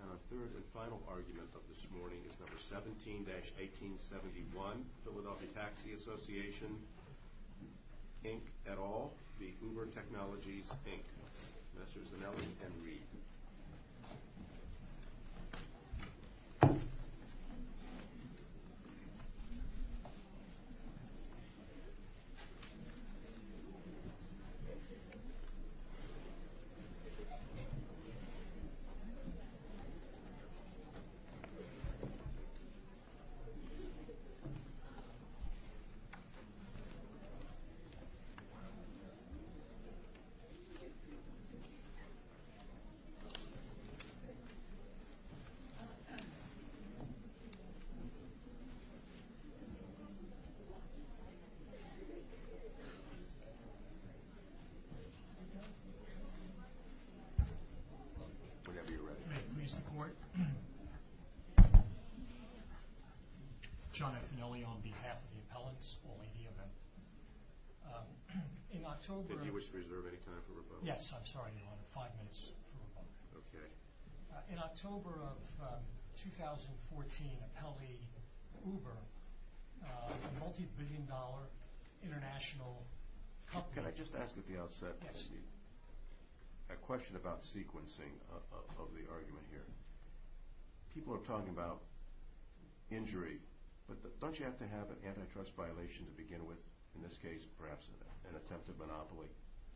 And our third and final argument of this morning is No. 17-1871, Philadelphia Taxi Association, Inc. et al., v. Uber Technologies, Inc. Mr. Zanelli and Reid. Mr. Zanelli and Mr. Reid. Whatever you're ready. May it please the court? John F. Zanelli on behalf of the appellants, only the available. In October If you wish to reserve any time for rebuttal. Yes, I'm sorry, Your Honor, five minutes for rebuttal. Okay. In October of 2014, Apelli, Uber, a multi-billion dollar international company Can I just ask at the outset? Yes. I have a question about sequencing of the argument here. People are talking about injury. But don't you have to have an antitrust violation to begin with? In this case, perhaps an attempted monopoly?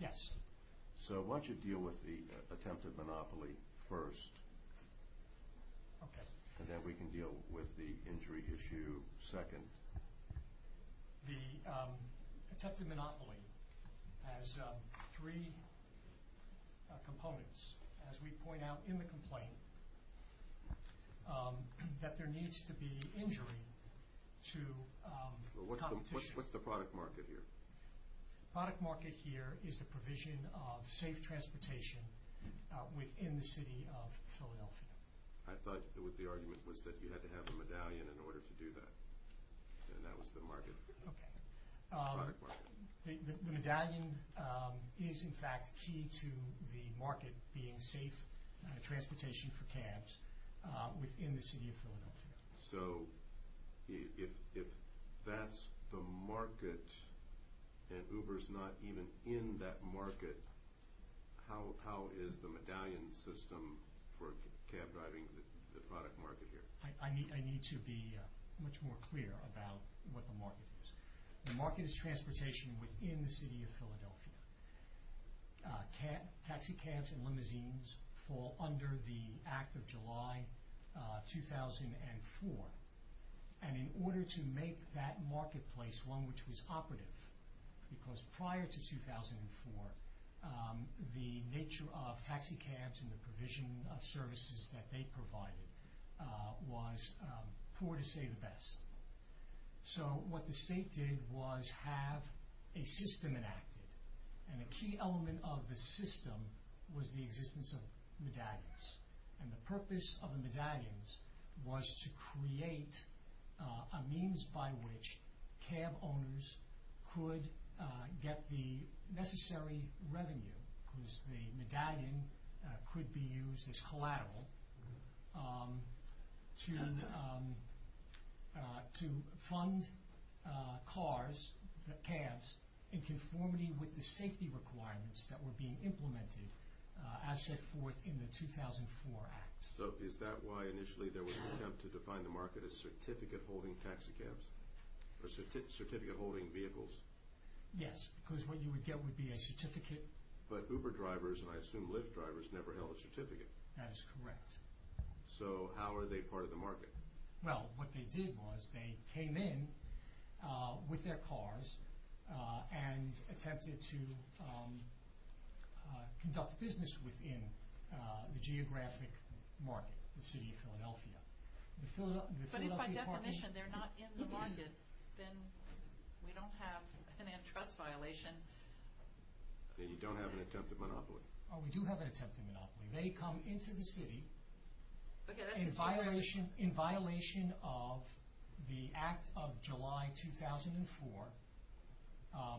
Yes. So why don't you deal with the attempted monopoly first. Okay. And then we can deal with the injury issue second. The attempted monopoly has three components. As we point out in the complaint, that there needs to be injury to competition. What's the product market here? The product market here is the provision of safe transportation within the city of Philadelphia. I thought the argument was that you had to have a medallion in order to do that. And that was the market. Okay. The product market. The medallion is, in fact, key to the market being safe transportation for cabs within the city of Philadelphia. So if that's the market and Uber's not even in that market, how is the medallion system for cab driving the product market here? I need to be much more clear about what the market is. The market is transportation within the city of Philadelphia. Taxi cabs and limousines fall under the Act of July 2004. And in order to make that marketplace one which was operative, because prior to 2004, the nature of taxi cabs and the provision of services that they provided was poor to say the best. So what the state did was have a system enacted. And a key element of the system was the existence of medallions. And the purpose of the medallions was to create a means by which cab owners could get the necessary revenue, because the medallion could be used as collateral to fund cars, cabs, in conformity with the safety requirements that were being implemented as set forth in the 2004 Act. So is that why initially there was an attempt to define the market as certificate-holding taxi cabs or certificate-holding vehicles? Yes, because what you would get would be a certificate. But Uber drivers, and I assume Lyft drivers, never held a certificate. That is correct. So how are they part of the market? Well, what they did was they came in with their cars and attempted to conduct business within the geographic market, the city of Philadelphia. But if by definition they're not in the market, then we don't have an antitrust violation. Then you don't have an attempted monopoly. Oh, we do have an attempted monopoly. They come into the city in violation of the Act of July 2004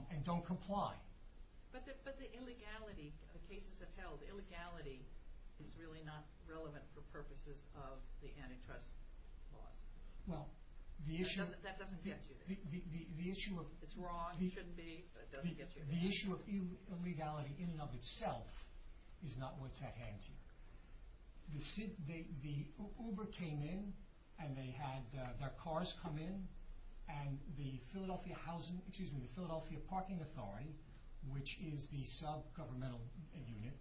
and don't comply. But the cases have held that illegality is really not relevant for purposes of the antitrust laws. That doesn't get you there. It's wrong, it shouldn't be, but it doesn't get you there. The issue of illegality in and of itself is not what's at hand here. The Uber came in and they had their cars come in, and the Philadelphia Parking Authority, which is the sub-governmental unit,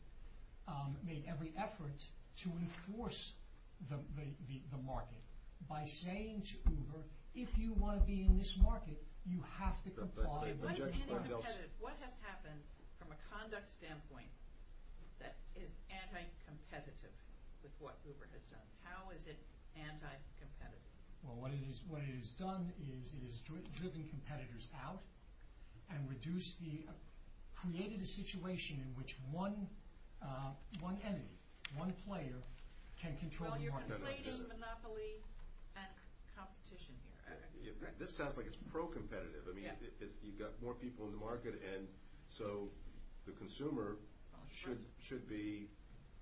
made every effort to enforce the market by saying to Uber, How is it anti-competitive? Well, what it has done is it has driven competitors out and created a situation in which one entity, one player, can control the market. So you're complaining of monopoly and competition here. This sounds like it's pro-competitive. I mean, you've got more people in the market, and so the consumer should be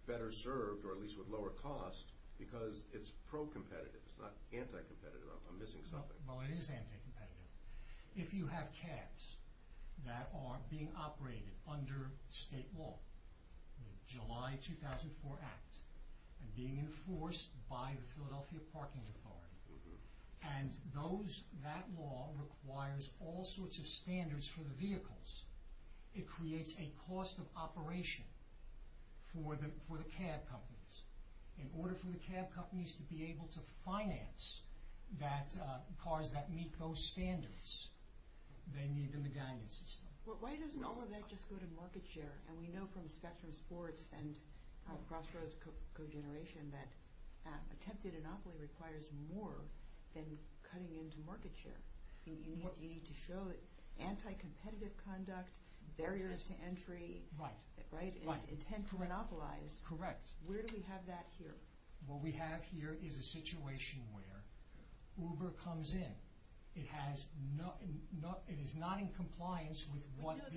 better served, or at least with lower cost, because it's pro-competitive. It's not anti-competitive. I'm missing something. Well, it is anti-competitive. If you have cabs that are being operated under state law, the July 2004 Act, and being enforced by the Philadelphia Parking Authority, and that law requires all sorts of standards for the vehicles, it creates a cost of operation for the cab companies. In order for the cab companies to be able to finance cars that meet those standards, they need the medallion system. Why doesn't all of that just go to market share? And we know from Spectrum Sports and Crossroads co-generation that attempted monopoly requires more than cutting into market share. You need to show anti-competitive conduct, barriers to entry, intent to monopolize. Correct. Where do we have that here? What we have here is a situation where Uber comes in. It is not in compliance with what... We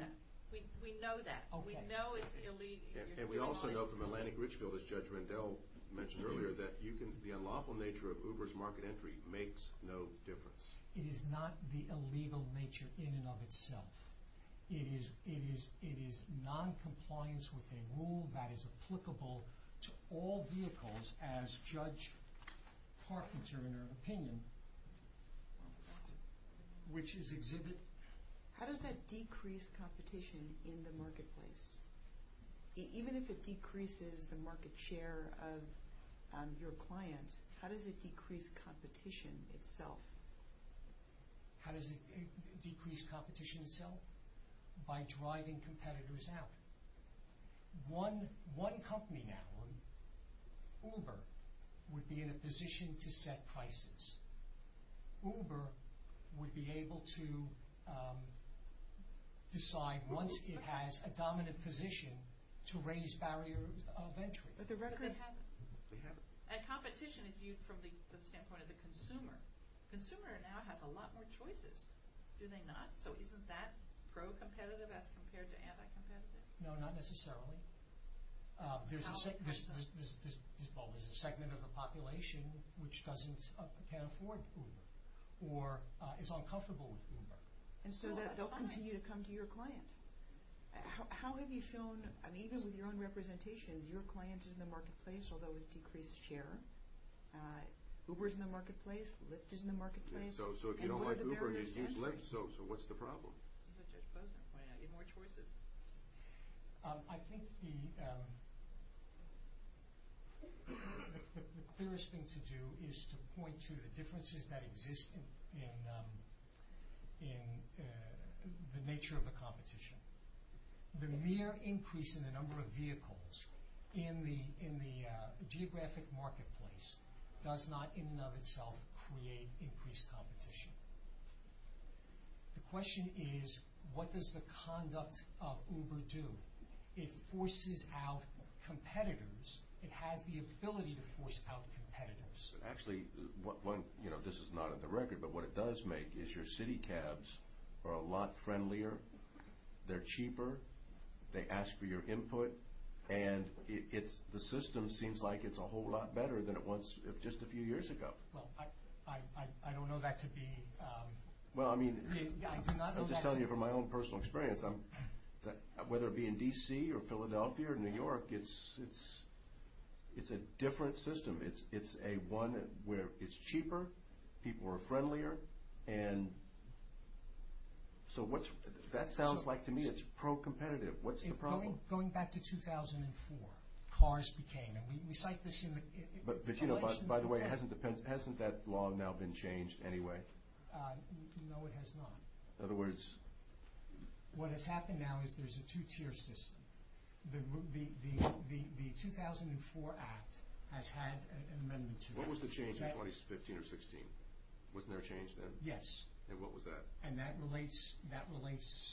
know that. We know it's illegal. And we also know from Atlantic Richfield, as Judge Rendell mentioned earlier, that the unlawful nature of Uber's market entry makes no difference. It is not the illegal nature in and of itself. It is non-compliance with a rule that is applicable to all vehicles, as Judge Carpenter, in her opinion, which is exhibit... How does that decrease competition in the marketplace? Even if it decreases the market share of your client, how does it decrease competition itself? How does it decrease competition itself? By driving competitors out. One company now, Uber, would be in a position to set prices. Uber would be able to decide, once it has a dominant position, to raise barriers of entry. But they haven't. They haven't. And competition is viewed from the standpoint of the consumer. The consumer now has a lot more choices, do they not? So isn't that pro-competitive as compared to anti-competitive? No, not necessarily. There's a segment of the population which can't afford Uber or is uncomfortable with Uber. And so they'll continue to come to your client. How have you shown... I mean, even with your own representations, your client is in the marketplace, although with decreased share. Uber's in the marketplace. Lyft is in the marketplace. So if you don't like Uber and you choose Lyft, so what's the problem? As Judge Posner pointed out, you have more choices. I think the clearest thing to do is to point to the differences that exist in the nature of the competition. The mere increase in the number of vehicles in the geographic marketplace does not, in and of itself, create increased competition. The question is, what does the conduct of Uber do? It forces out competitors. It has the ability to force out competitors. Actually, this is not on the record, but what it does make is your city cabs are a lot friendlier. They're cheaper. They ask for your input. And the system seems like it's a whole lot better than it was just a few years ago. Well, I don't know that to be— Well, I mean— I do not know that— I'm just telling you from my own personal experience, whether it be in D.C. or Philadelphia or New York, it's a different system. It's a one where it's cheaper, people are friendlier, and so what's—that sounds like to me it's pro-competitive. What's the problem? Going back to 2004, cars became—and we cite this in— By the way, hasn't that law now been changed anyway? No, it has not. In other words— What has happened now is there's a two-tier system. The 2004 Act has had an amendment to it. What was the change in 2015 or 2016? Wasn't there a change then? Yes. And what was that? And that relates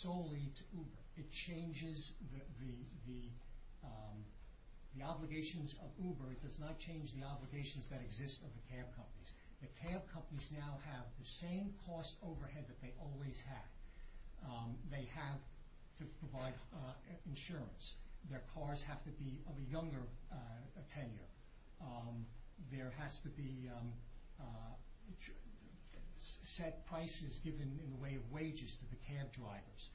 solely to Uber. It changes the obligations of Uber. It does not change the obligations that exist of the cab companies. The cab companies now have the same cost overhead that they always had. They have to provide insurance. Their cars have to be of a younger tenure. There has to be set prices given in the way of wages to the cab drivers.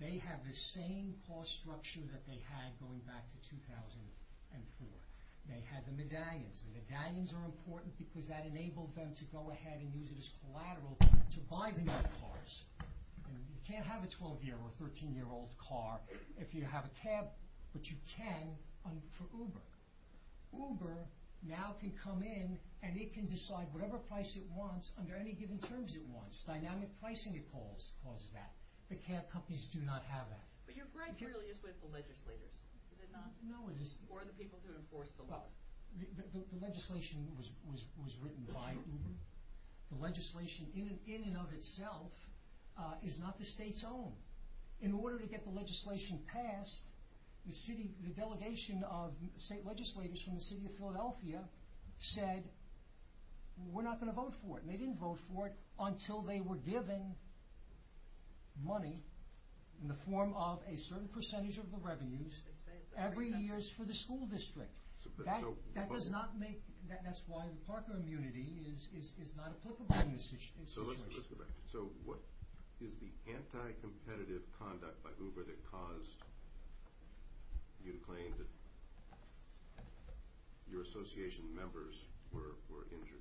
They have the same cost structure that they had going back to 2004. They had the medallions. The medallions are important because that enabled them to go ahead and use it as collateral to buy the new cars. You can't have a 12-year or 13-year-old car if you have a cab, but you can for Uber. Uber now can come in and it can decide whatever price it wants under any given terms it wants. Dynamic pricing causes that. The cab companies do not have that. But your gripe really is with the legislators, is it not? No, it isn't. Or the people who enforce the laws. The legislation was written by Uber. The legislation in and of itself is not the state's own. In order to get the legislation passed, the delegation of state legislators from the city of Philadelphia said, we're not going to vote for it. And they didn't vote for it until they were given money in the form of a certain percentage of the revenues every year for the school district. That's why the Parker immunity is not applicable in this situation. So what is the anti-competitive conduct by Uber that caused you to claim that your association members were injured?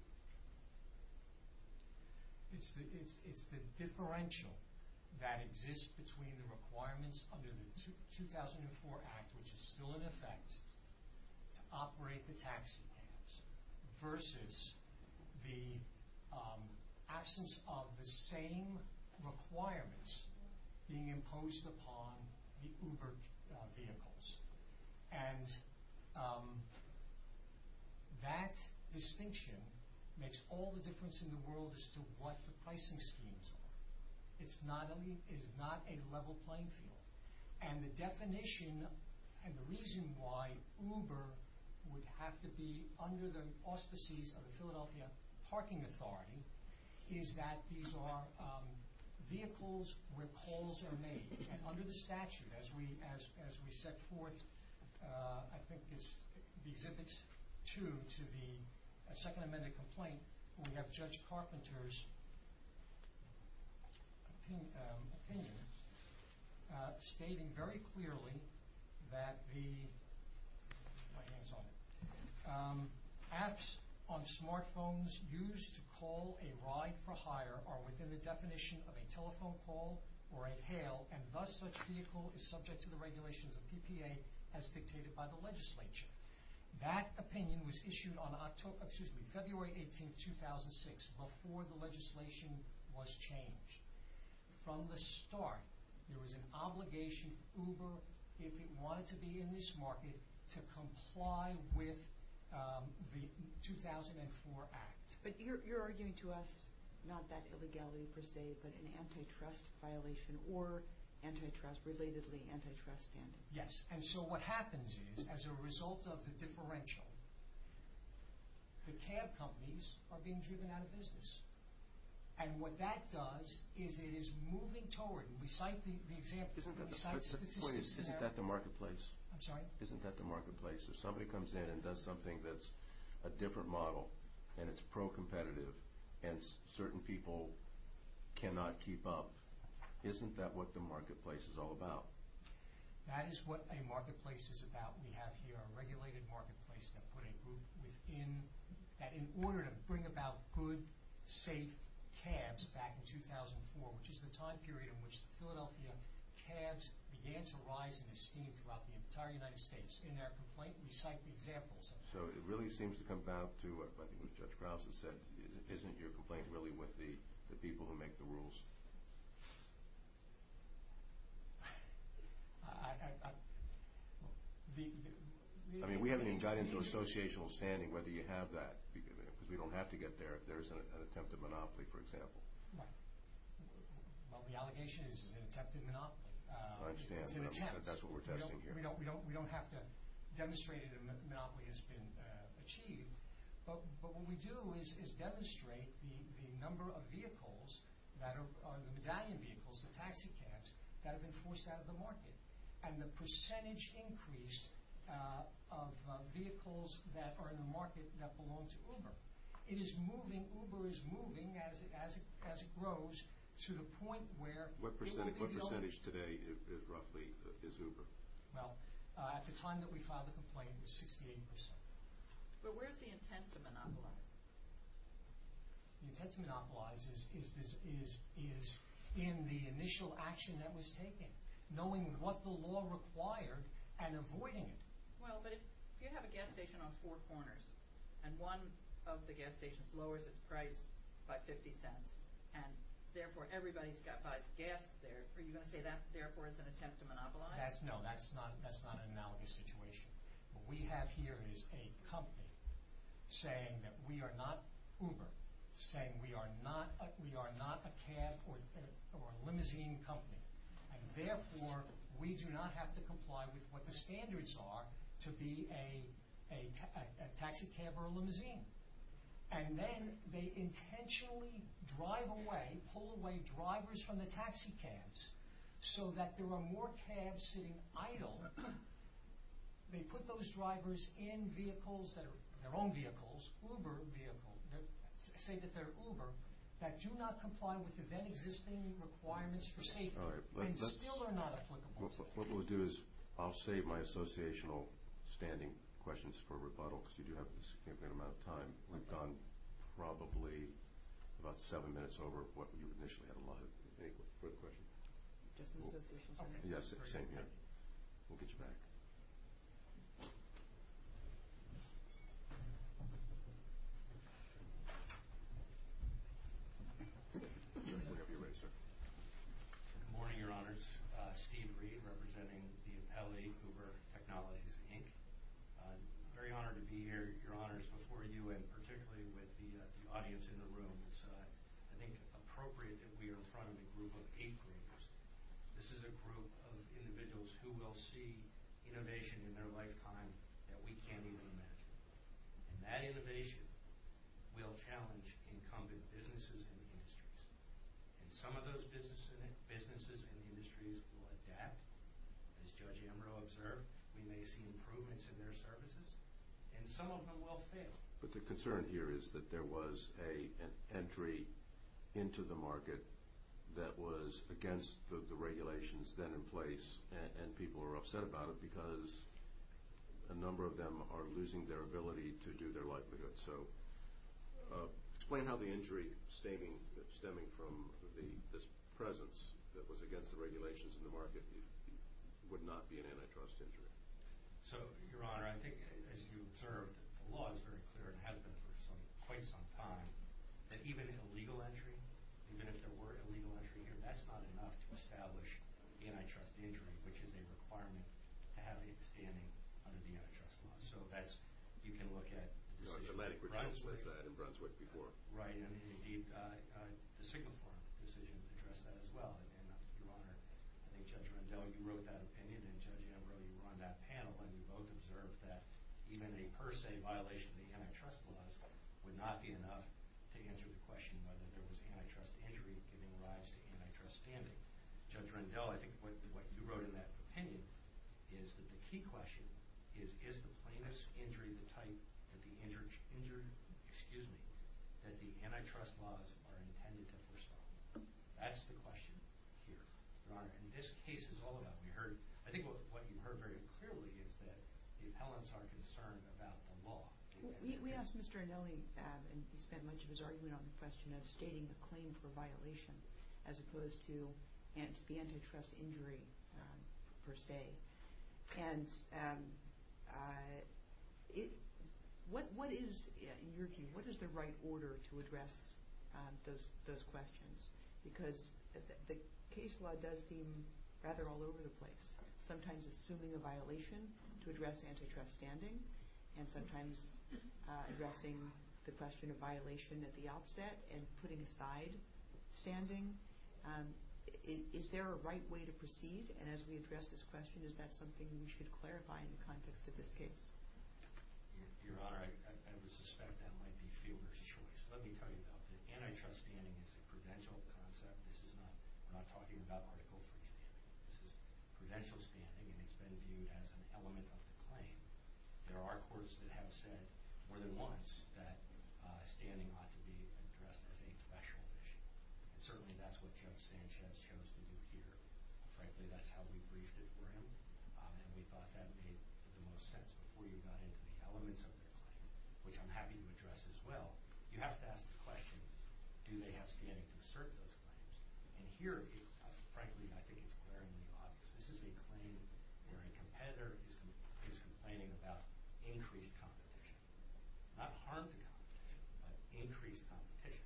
It's the differential that exists between the requirements under the 2004 Act, which is still in effect, to operate the taxi cabs, versus the absence of the same requirements being imposed upon the Uber vehicles. And that distinction makes all the difference in the world as to what the pricing schemes are. It is not a level playing field. And the definition, and the reason why Uber would have to be under the auspices of the Philadelphia Parking Authority, is that these are vehicles where calls are made. And under the statute, as we set forth, I think it's the Exhibit 2 to the second amended complaint, we have Judge Carpenter's opinion stating very clearly that the apps on smartphones used to call a ride for hire are within the definition of a telephone call or a hail, and thus such vehicle is subject to the regulations of PPA as dictated by the legislature. That opinion was issued on February 18, 2006, before the legislation was changed. From the start, there was an obligation for Uber, if it wanted to be in this market, to comply with the 2004 Act. But you're arguing to us, not that illegality per se, but an antitrust violation, or antitrust, relatedly antitrust standing. Yes. And so what happens is, as a result of the differential, the cab companies are being driven out of business. And what that does is it is moving toward, and we cite the example, we cite statistics. Isn't that the marketplace? I'm sorry? And certain people cannot keep up. Isn't that what the marketplace is all about? That is what a marketplace is about. We have here a regulated marketplace that put a group within, that in order to bring about good, safe cabs back in 2004, which is the time period in which the Philadelphia cabs began to rise in esteem throughout the entire United States. In their complaint, we cite the examples. So it really seems to come down to, I think what Judge Krause has said, isn't your complaint really with the people who make the rules? I mean, we haven't even got into an associational standing whether you have that. Because we don't have to get there if there's an attempted monopoly, for example. Right. Well, the allegation is it's an attempted monopoly. I understand, but that's what we're testing here. We don't have to demonstrate that a monopoly has been achieved. But what we do is demonstrate the number of vehicles, the medallion vehicles, the taxi cabs, that have been forced out of the market. And the percentage increase of vehicles that are in the market that belong to Uber. It is moving, Uber is moving as it grows to the point where it will be the only. What percentage today roughly is Uber? Well, at the time that we filed the complaint, it was 68%. But where's the intent to monopolize? The intent to monopolize is in the initial action that was taken. Knowing what the law required and avoiding it. Well, but if you have a gas station on four corners, and one of the gas stations lowers its price by 50 cents, and therefore everybody buys gas there, are you going to say that therefore is an attempt to monopolize? No, that's not an analogous situation. What we have here is a company saying that we are not Uber, saying we are not a cab or a limousine company. And therefore, we do not have to comply with what the standards are to be a taxi cab or a limousine. And then they intentionally drive away, pull away drivers from the taxi cabs so that there are more cabs sitting idle. They put those drivers in vehicles that are their own vehicles, Uber vehicles, say that they're Uber, that do not comply with the then existing requirements for safety and still are not applicable. What we'll do is I'll save my associational standing questions for rebuttal, because you do have a significant amount of time. We've gone probably about seven minutes over what you initially had allotted. Any further questions? Just an associational statement. Yes, same here. We'll get you back. Whenever you're ready, sir. Good morning, Your Honors. Steve Reed, representing the Appellee Uber Technologies, Inc. I'm very honored to be here, Your Honors, before you and particularly with the audience in the room. It's, I think, appropriate that we are in front of a group of eighth graders. This is a group of individuals who will see innovation in their lifetime that we can't even imagine. And that innovation will challenge incumbent businesses and industries. And some of those businesses and industries will adapt, as Judge Ambrose observed. We may see improvements in their services, and some of them will fail. But the concern here is that there was an entry into the market that was against the regulations then in place, and people are upset about it because a number of them are losing their ability to do their livelihood. So explain how the injury stemming from this presence that was against the regulations in the market would not be an antitrust injury. So, Your Honor, I think, as you observed, the law is very clear and has been for quite some time that even illegal entry, even if there were illegal entry here, that's not enough to establish antitrust injury, which is a requirement to have it standing under the antitrust law. So that's, you can look at the decision in Brunswick. Right, and indeed, the Sigma Forum decision addressed that as well. And, Your Honor, I think Judge Rendell, you wrote that opinion, and Judge Ambrose, you were on that panel, and you both observed that even a per se violation of the antitrust laws would not be enough to answer the question whether there was antitrust injury giving rise to antitrust standing. Judge Rendell, I think what you wrote in that opinion is that the key question is, is the plaintiff's injury the type that the injured, excuse me, that the antitrust laws are intended to forestall? That's the question here, Your Honor, and this case is all about, we heard, I think what you heard very clearly is that the appellants are concerned about the law. We asked Mr. Anelli, and he spent much of his argument on the question of stating the claim for violation as opposed to the antitrust injury per se. And what is, in your view, what is the right order to address those questions? Because the case law does seem rather all over the place, sometimes assuming a violation to address antitrust standing, and sometimes addressing the question of violation at the outset and putting aside standing. Is there a right way to proceed? And as we address this question, is that something we should clarify in the context of this case? Your Honor, I would suspect that might be Fielder's choice. Let me tell you, though, that antitrust standing is a prudential concept. We're not talking about Article III standing. This is prudential standing, and it's been viewed as an element of the claim. There are courts that have said more than once that standing ought to be addressed as a threshold issue, and certainly that's what Joe Sanchez chose to do here. Frankly, that's how we briefed it for him, and we thought that made the most sense before you got into the elements of the claim, which I'm happy to address as well. You have to ask the question, do they have standing to assert those claims? And here, frankly, I think it's glaringly obvious. This is a claim where a competitor is complaining about increased competition. Not harm to competition, but increased competition.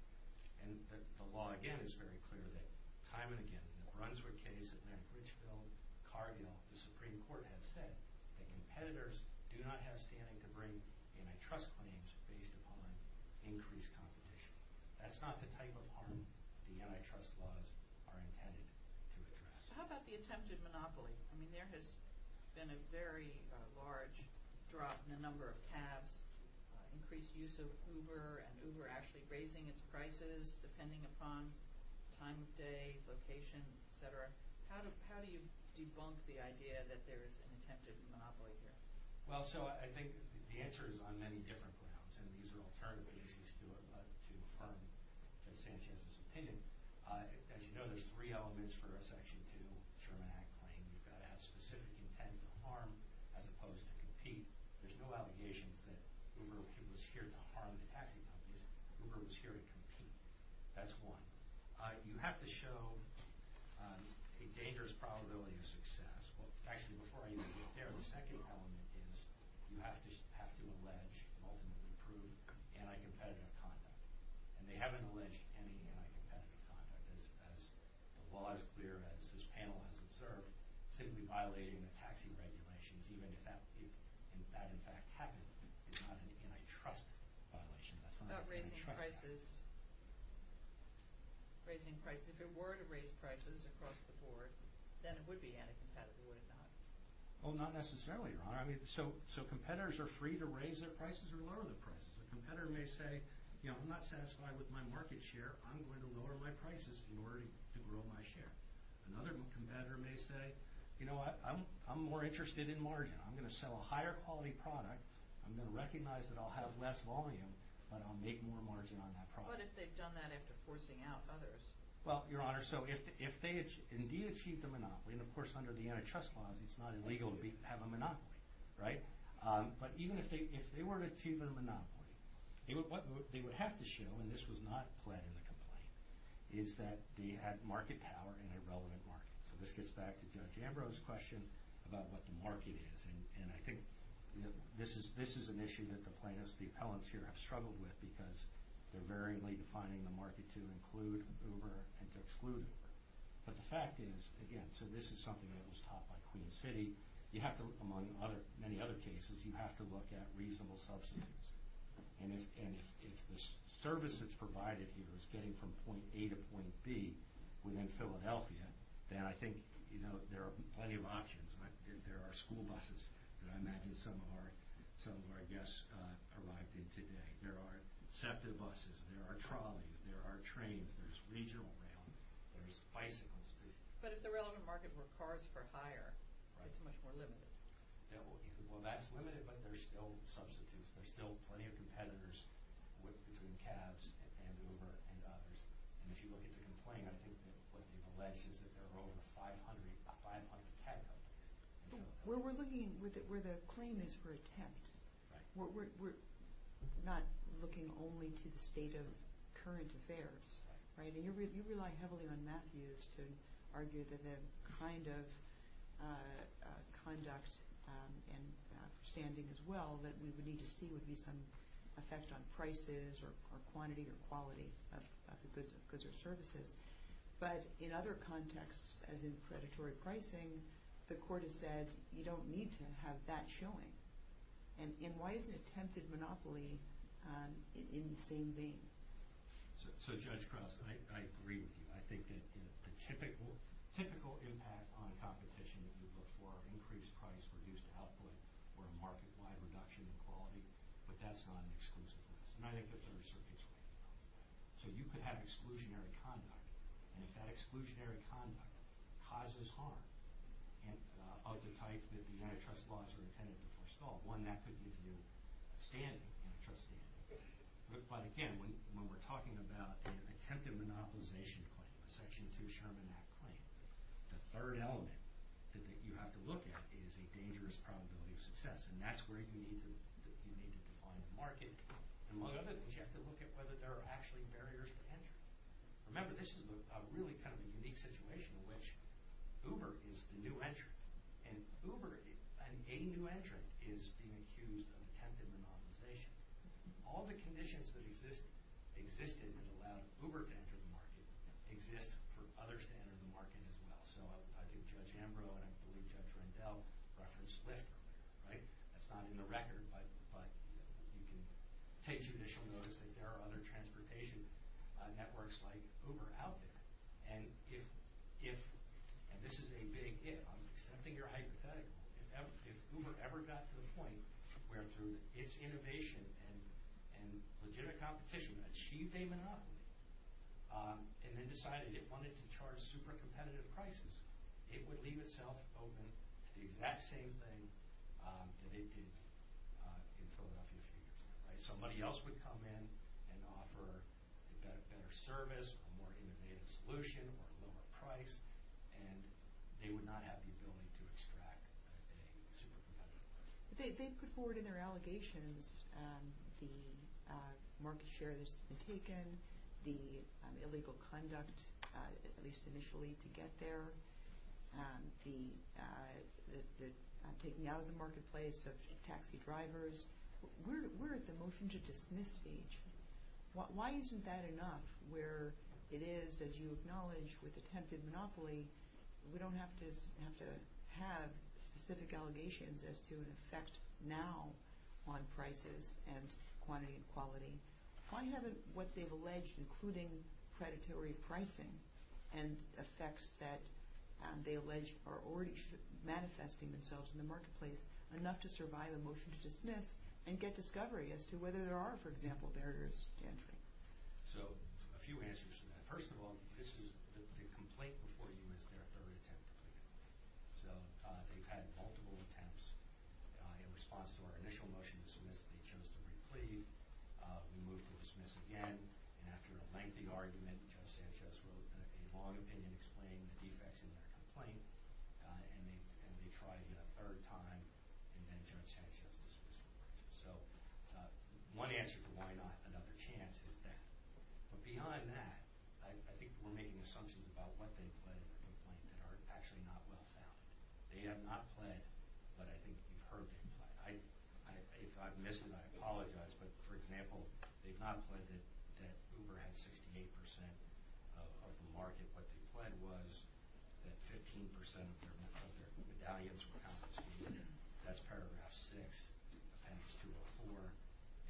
And the law, again, is very clear that time and again, in the Brunswick case at McRichville, Cargill, the Supreme Court has said that competitors do not have standing to bring antitrust claims based upon increased competition. That's not the type of harm the antitrust laws are intended to address. So how about the attempted monopoly? I mean, there has been a very large drop in the number of cabs, increased use of Uber, and Uber actually raising its prices depending upon time of day, location, etc. How do you debunk the idea that there is an attempted monopoly here? Well, so I think the answer is on many different grounds, and these are alternative cases to affirm Judge Sanchez's opinion. As you know, there's three elements for a Section 2 Sherman Act claim. You've got to have specific intent to harm as opposed to compete. There's no allegations that Uber was here to harm the taxi companies. Uber was here to compete. That's one. You have to show a dangerous probability of success. Actually, before I even get there, the second element is you have to allege, and ultimately prove, anti-competitive conduct. And they haven't alleged any anti-competitive conduct. As the law is clear, as this panel has observed, simply violating the taxi regulations, even if that in fact happened, is not an antitrust violation. What about raising prices? If it were to raise prices across the board, then it would be anti-competitive, would it not? Well, not necessarily, Your Honor. So competitors are free to raise their prices or lower their prices. A competitor may say, you know, I'm not satisfied with my market share. I'm going to lower my prices in order to grow my share. Another competitor may say, you know what, I'm more interested in margin. I'm going to sell a higher quality product. I'm going to recognize that I'll have less volume, but I'll make more margin on that product. What if they've done that after forcing out others? Well, Your Honor, so if they indeed achieved a monopoly, and of course under the antitrust laws it's not illegal to have a monopoly, right? But even if they were to achieve their monopoly, what they would have to show, and this was not pled in the complaint, is that they had market power in a relevant market. So this gets back to Judge Ambrose's question about what the market is. And I think this is an issue that the plaintiffs, the appellants here have struggled with because they're varyingly defining the market to include Uber and to exclude Uber. But the fact is, again, so this is something that was taught by Queen City. You have to, among many other cases, you have to look at reasonable substitutes. And if the service that's provided here is getting from point A to point B within Philadelphia, then I think there are plenty of options. There are school buses that I imagine some of our guests arrived in today. There are SEPTA buses. There are trolleys. There are trains. There's regional rail. There's bicycles. But if the relevant market were cars for hire, that's much more limited. Well, that's limited, but there's still substitutes. There's still plenty of competitors between cabs and Uber and others. And if you look at the complaint, I think what they've alleged is that there are over 500 cab companies. Well, we're looking where the claim is for attempt. We're not looking only to the state of current affairs, right? And you rely heavily on Matthews to argue that the kind of conduct and standing as well that we would need to see would be some effect on prices or quantity or quality of goods or services. But in other contexts, as in predatory pricing, the court has said you don't need to have that showing. And why isn't attempted monopoly in the same vein? So, Judge Krause, I agree with you. I think that the typical impact on competition that you look for, increased price, reduced output, or a market-wide reduction in quality, but that's not an exclusive. And I think the Third Circuit's right about that. So you could have exclusionary conduct. And if that exclusionary conduct causes harm of the type that the antitrust laws are intended to forestall, one, that could give you standing, antitrust standing. But again, when we're talking about an attempted monopolization claim, a Section 2 Sherman Act claim, the third element that you have to look at is a dangerous probability of success. And that's where you need to define a market. Among other things, you have to look at whether there are actually barriers to entry. Remember, this is really kind of a unique situation in which Uber is the new entry. And Uber, a new entry, is being accused of attempted monopolization. All the conditions that existed that allowed Uber to enter the market exist for others to enter the market as well. So I think Judge Ambrose and I believe Judge Rendell referenced Lyft earlier, right? That's not in the record, but you can take judicial notice that there are other transportation networks like Uber out there. And if, and this is a big if, I'm accepting your hypothetical, if Uber ever got to the point where through its innovation and legitimate competition achieved a monopoly and then decided it wanted to charge super competitive prices, it would leave itself open to the exact same thing that it did in Philadelphia a few years ago, right? Somebody else would come in and offer a better service, a more innovative solution, or a lower price, and they would not have the ability to extract a super competitive price. They've put forward in their allegations the market share that's been taken, the illegal conduct, at least initially, to get there, the taking out of the marketplace of taxi drivers. We're at the motion to dismiss stage. Why isn't that enough where it is, as you acknowledge, with attempted monopoly, we don't have to have specific allegations as to an effect now on prices and quantity and quality. Why haven't what they've alleged, including predatory pricing and effects that they allege are already manifesting themselves in the marketplace enough to survive a motion to dismiss and get discovery as to whether there are, for example, barriers to entry? So a few answers to that. First of all, this is the complaint before you is their third attempt to plead. So they've had multiple attempts. In response to our initial motion to dismiss, they chose to re-plead. We moved to dismiss again, and after a lengthy argument, Judge Sanchez wrote a long opinion explaining the defects in their complaint, and they tried it a third time, and then Judge Sanchez dismissed it. So one answer to why not another chance is that. But beyond that, I think we're making assumptions about what they've pledged in the complaint that are actually not well-founded. They have not pled, but I think you've heard them. If I've missed it, I apologize, but, for example, they've not pled that Uber had 68% of the market. What they've pled was that 15% of their medallions were confiscated. That's Paragraph 6, Appendix 204,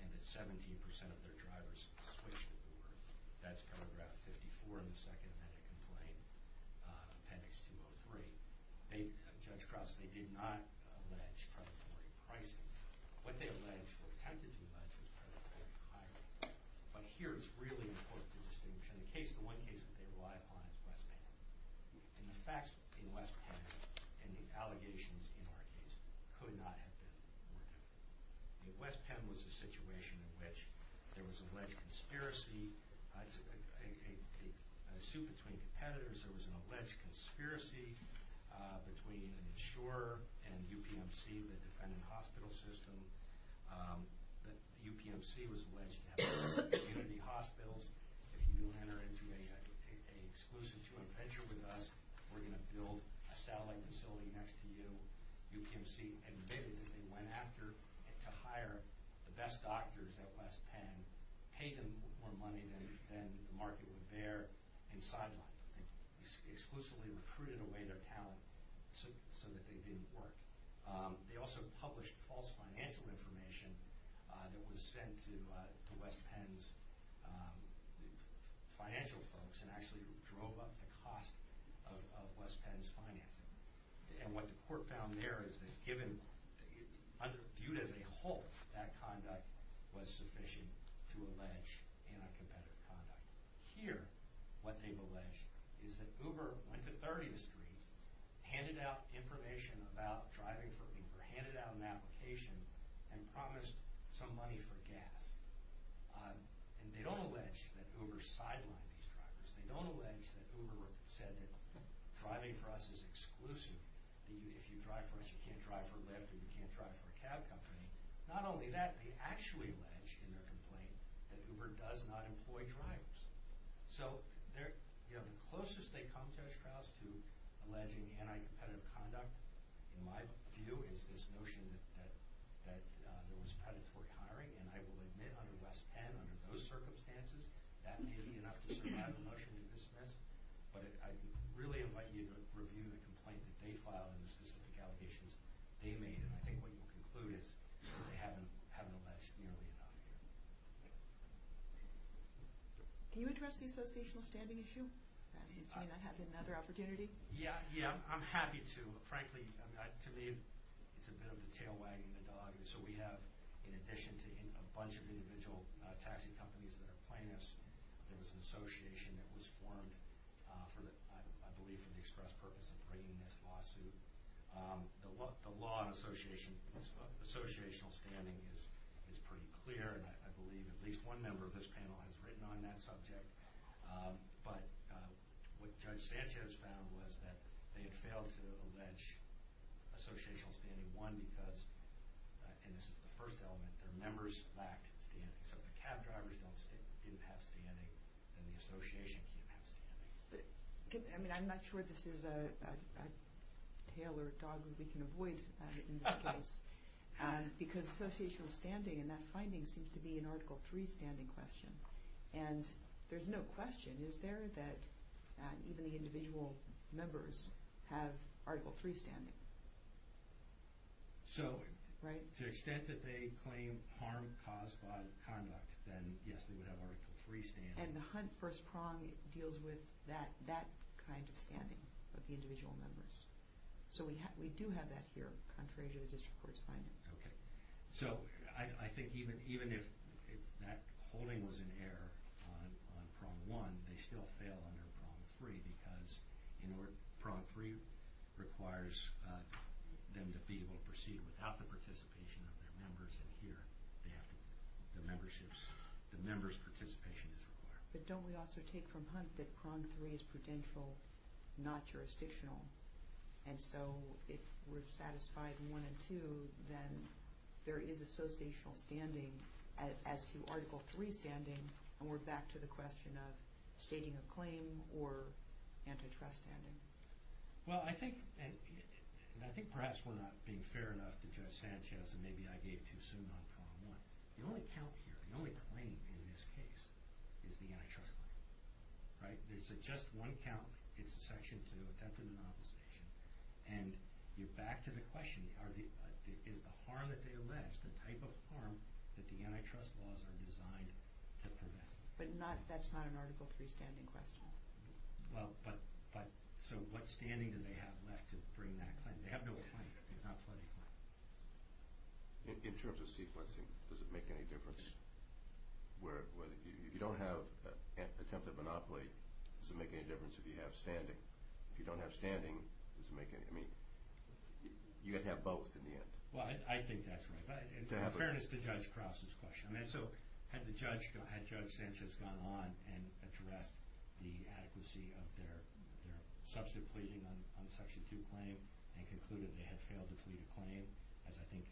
and that 17% of their drivers switched Uber. That's Paragraph 54 in the Second Amendment complaint, Appendix 203. Judge Cross, they did not allege predatory pricing. What they allege or attempted to allege is predatory hiring. But here it's really important to distinguish. In the case, the one case that they rely upon is West Penn. And the facts in West Penn and the allegations in our case could not have been more different. West Penn was a situation in which there was an alleged conspiracy. A suit between competitors, there was an alleged conspiracy between an insurer and UPMC, the defendant hospital system. The UPMC was alleged to have a group of community hospitals. If you enter into an exclusive two-month venture with us, we're going to build a satellite facility next to you. UPMC admitted that they went after to hire the best doctors at West Penn, paid them more money than the market would bear, and sidelined them. They exclusively recruited away their talent so that they didn't work. They also published false financial information that was sent to West Penn's financial folks and actually drove up the cost of West Penn's financing. And what the court found there is that, viewed as a whole, that conduct was sufficient to allege anti-competitive conduct. Here, what they've alleged is that Uber went to 30th Street, handed out information about driving for Uber, handed out an application, and promised some money for gas. And they don't allege that Uber sidelined these drivers. They don't allege that Uber said that driving for us is exclusive, that if you drive for us you can't drive for Lyft and you can't drive for a cab company. Not only that, they actually allege in their complaint that Uber does not employ drivers. So the closest they come, Judge Krause, to alleging anti-competitive conduct, in my view, is this notion that there was predatory hiring. And I will admit under West Penn, under those circumstances, that may be enough to survive a motion to dismiss. But I really invite you to review the complaint that they filed and the specific allegations they made. And I think what you'll conclude is that they haven't alleged nearly enough here. Can you address the associational standing issue? Since you and I have another opportunity. Yeah, I'm happy to. Frankly, to me, it's a bit of the tail wagging the dog. So we have, in addition to a bunch of individual taxi companies that are plaintiffs, there was an association that was formed, I believe for the express purpose of bringing this lawsuit. The law on associational standing is pretty clear. And I believe at least one member of this panel has written on that subject. But what Judge Sanchez found was that they had failed to allege associational standing. One, because, and this is the first element, their members lacked standing. So if the cab drivers didn't have standing, then the association can't have standing. I mean, I'm not sure this is a tail or a dog that we can avoid in this case. Because associational standing in that finding seems to be an Article III standing question. And there's no question. Is there that even the individual members have Article III standing? So to the extent that they claim harm caused by conduct, then yes, they would have Article III standing. And the Hunt first prong deals with that kind of standing of the individual members. So we do have that here, contrary to the District Court's finding. Okay. So I think even if that holding was in error on prong one, they still fail under prong three, because prong three requires them to be able to proceed without the participation of their members. And here, the members' participation is required. But don't we also take from Hunt that prong three is prudential, not jurisdictional? And so if we're satisfied one and two, then there is associational standing as to Article III standing, and we're back to the question of stating a claim or antitrust standing. Well, I think, and I think perhaps we're not being fair enough to Judge Sanchez, and maybe I gave too soon on prong one. The only count here, the only claim in this case is the antitrust claim, right? There's just one count. It's Section 2, attempted inopposition. And you're back to the question, is the harm that they allege the type of harm that the antitrust laws are designed to prevent? But that's not an Article III standing question. Well, but so what standing do they have left to bring that claim? In terms of sequencing, does it make any difference? If you don't have attempted monopoly, does it make any difference if you have standing? If you don't have standing, does it make any – I mean, you have to have both in the end. Well, I think that's right. Fairness to Judge Krause's question. I mean, so had Judge Sanchez gone on and addressed the adequacy of their substantive pleading on Section 2 claim and concluded they had failed to plead a claim, as I think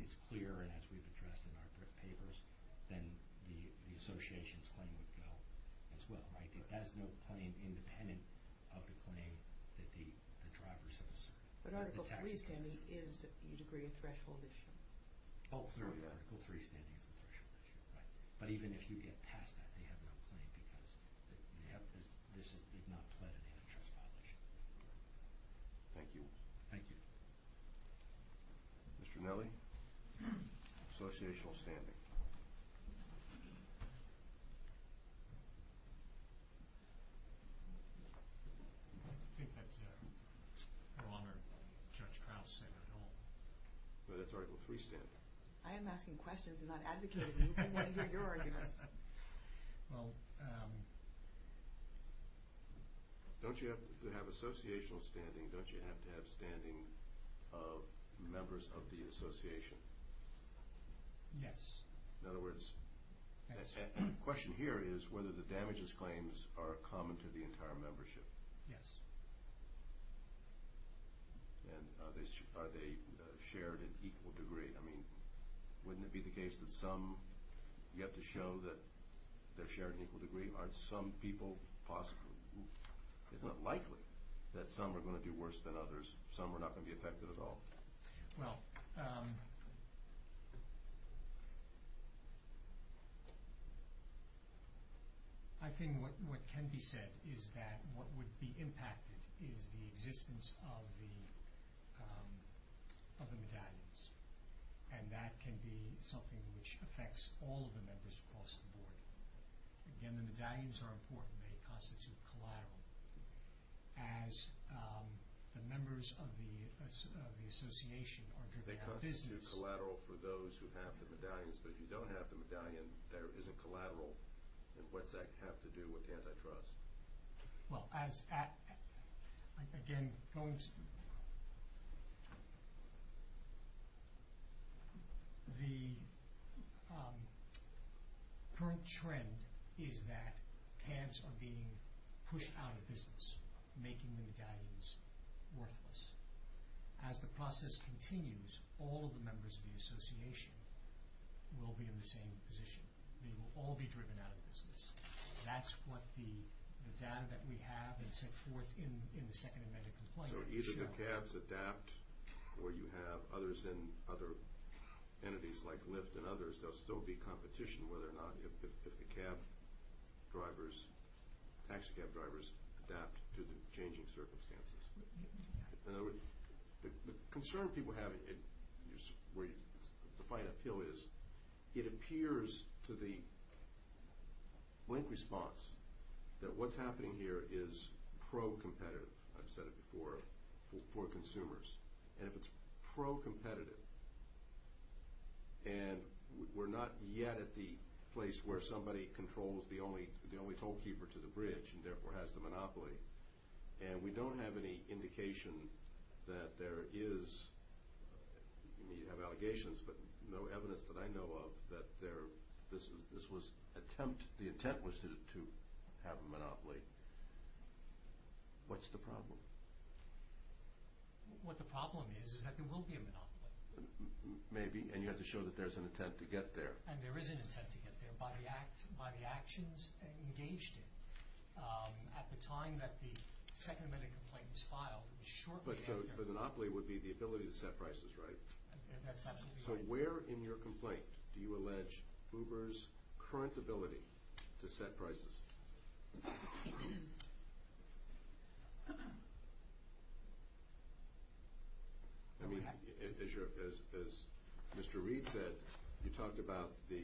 is clear and as we've addressed in our papers, then the association's claim would go as well, right? It has no claim independent of the claim that the drivers have asserted. But Article III standing is, you'd agree, a threshold issue. Oh, clearly, Article III standing is a threshold issue, right? But even if you get past that, they have no claim because this did not pled an antitrust violation. Thank you. Thank you. Mr. Nellie, associational standing. I think that's Your Honor, Judge Krause said it all. No, that's Article III standing. I am asking questions and not advocating. We didn't want to hear your arguments. Well… Don't you have to have associational standing? Don't you have to have standing of members of the association? Yes. In other words, the question here is whether the damages claims are common to the entire membership. Yes. And are they shared in equal degree? I mean, wouldn't it be the case that some – you have to show that they're shared in equal degree. Aren't some people – isn't it likely that some are going to do worse than others, some are not going to be affected at all? Well… I think what can be said is that what would be impacted is the existence of the medallions. And that can be something which affects all of the members across the board. Again, the medallions are important. They constitute collateral. As the members of the association are driven out of business… They constitute collateral for those who have the medallions. But if you don't have the medallion, there isn't collateral. And what's that have to do with antitrust? Well, as – again, going to… The current trend is that CAVs are being pushed out of business, making the medallions worthless. As the process continues, all of the members of the association will be in the same position. They will all be driven out of business. That's what the data that we have and set forth in the second amendment complaint show. So either the CAVs adapt where you have others in other entities like Lyft and others, there will still be competition whether or not – if the CAV drivers, taxi-CAV drivers adapt to the changing circumstances. In other words, the concern people have, where the final appeal is, it appears to the blank response that what's happening here is pro-competitive. I've said it before, for consumers. And if it's pro-competitive and we're not yet at the place where somebody controls the only – the only tollkeeper to the bridge and therefore has the monopoly, and we don't have any indication that there is – I mean, you have allegations, but no evidence that I know of that there – this was attempt – the intent was to have a monopoly. What's the problem? What the problem is, is that there will be a monopoly. Maybe, and you have to show that there's an intent to get there. And there is an intent to get there by the actions engaged in. At the time that the second amendment complaint was filed, it was shortly after. But so the monopoly would be the ability to set prices, right? That's absolutely right. So where in your complaint do you allege Uber's current ability to set prices? I mean, as you're – as Mr. Reed said, you talked about the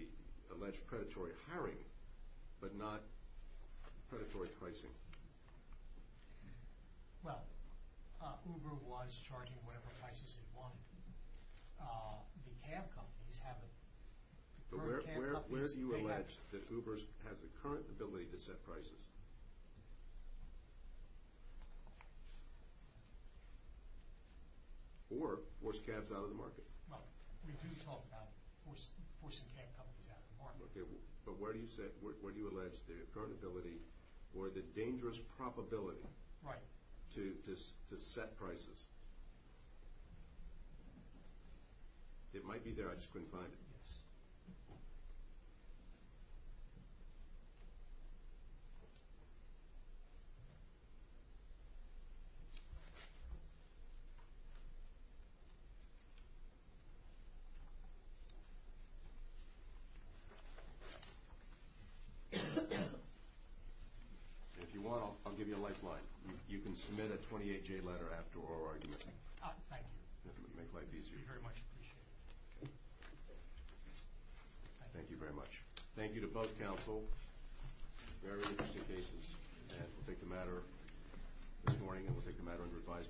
alleged predatory hiring, but not predatory pricing. Well, Uber was charging whatever prices it wanted. The cab companies have a – Uber cab companies, they have – the ability to set prices. Or force cabs out of the market. Well, we do talk about forcing cab companies out of the market. Okay, but where do you set – where do you allege the current ability or the dangerous probability to set prices? It might be there. I just couldn't find it. Yes. Thank you. If you want, I'll give you a lifeline. You can submit a 28-J letter after our argument. Thank you. It'll make life easier. I very much appreciate it. Thank you very much. Thank you to both counsel. Very interesting cases. And we'll take the matter this morning and we'll take the matter under advisory.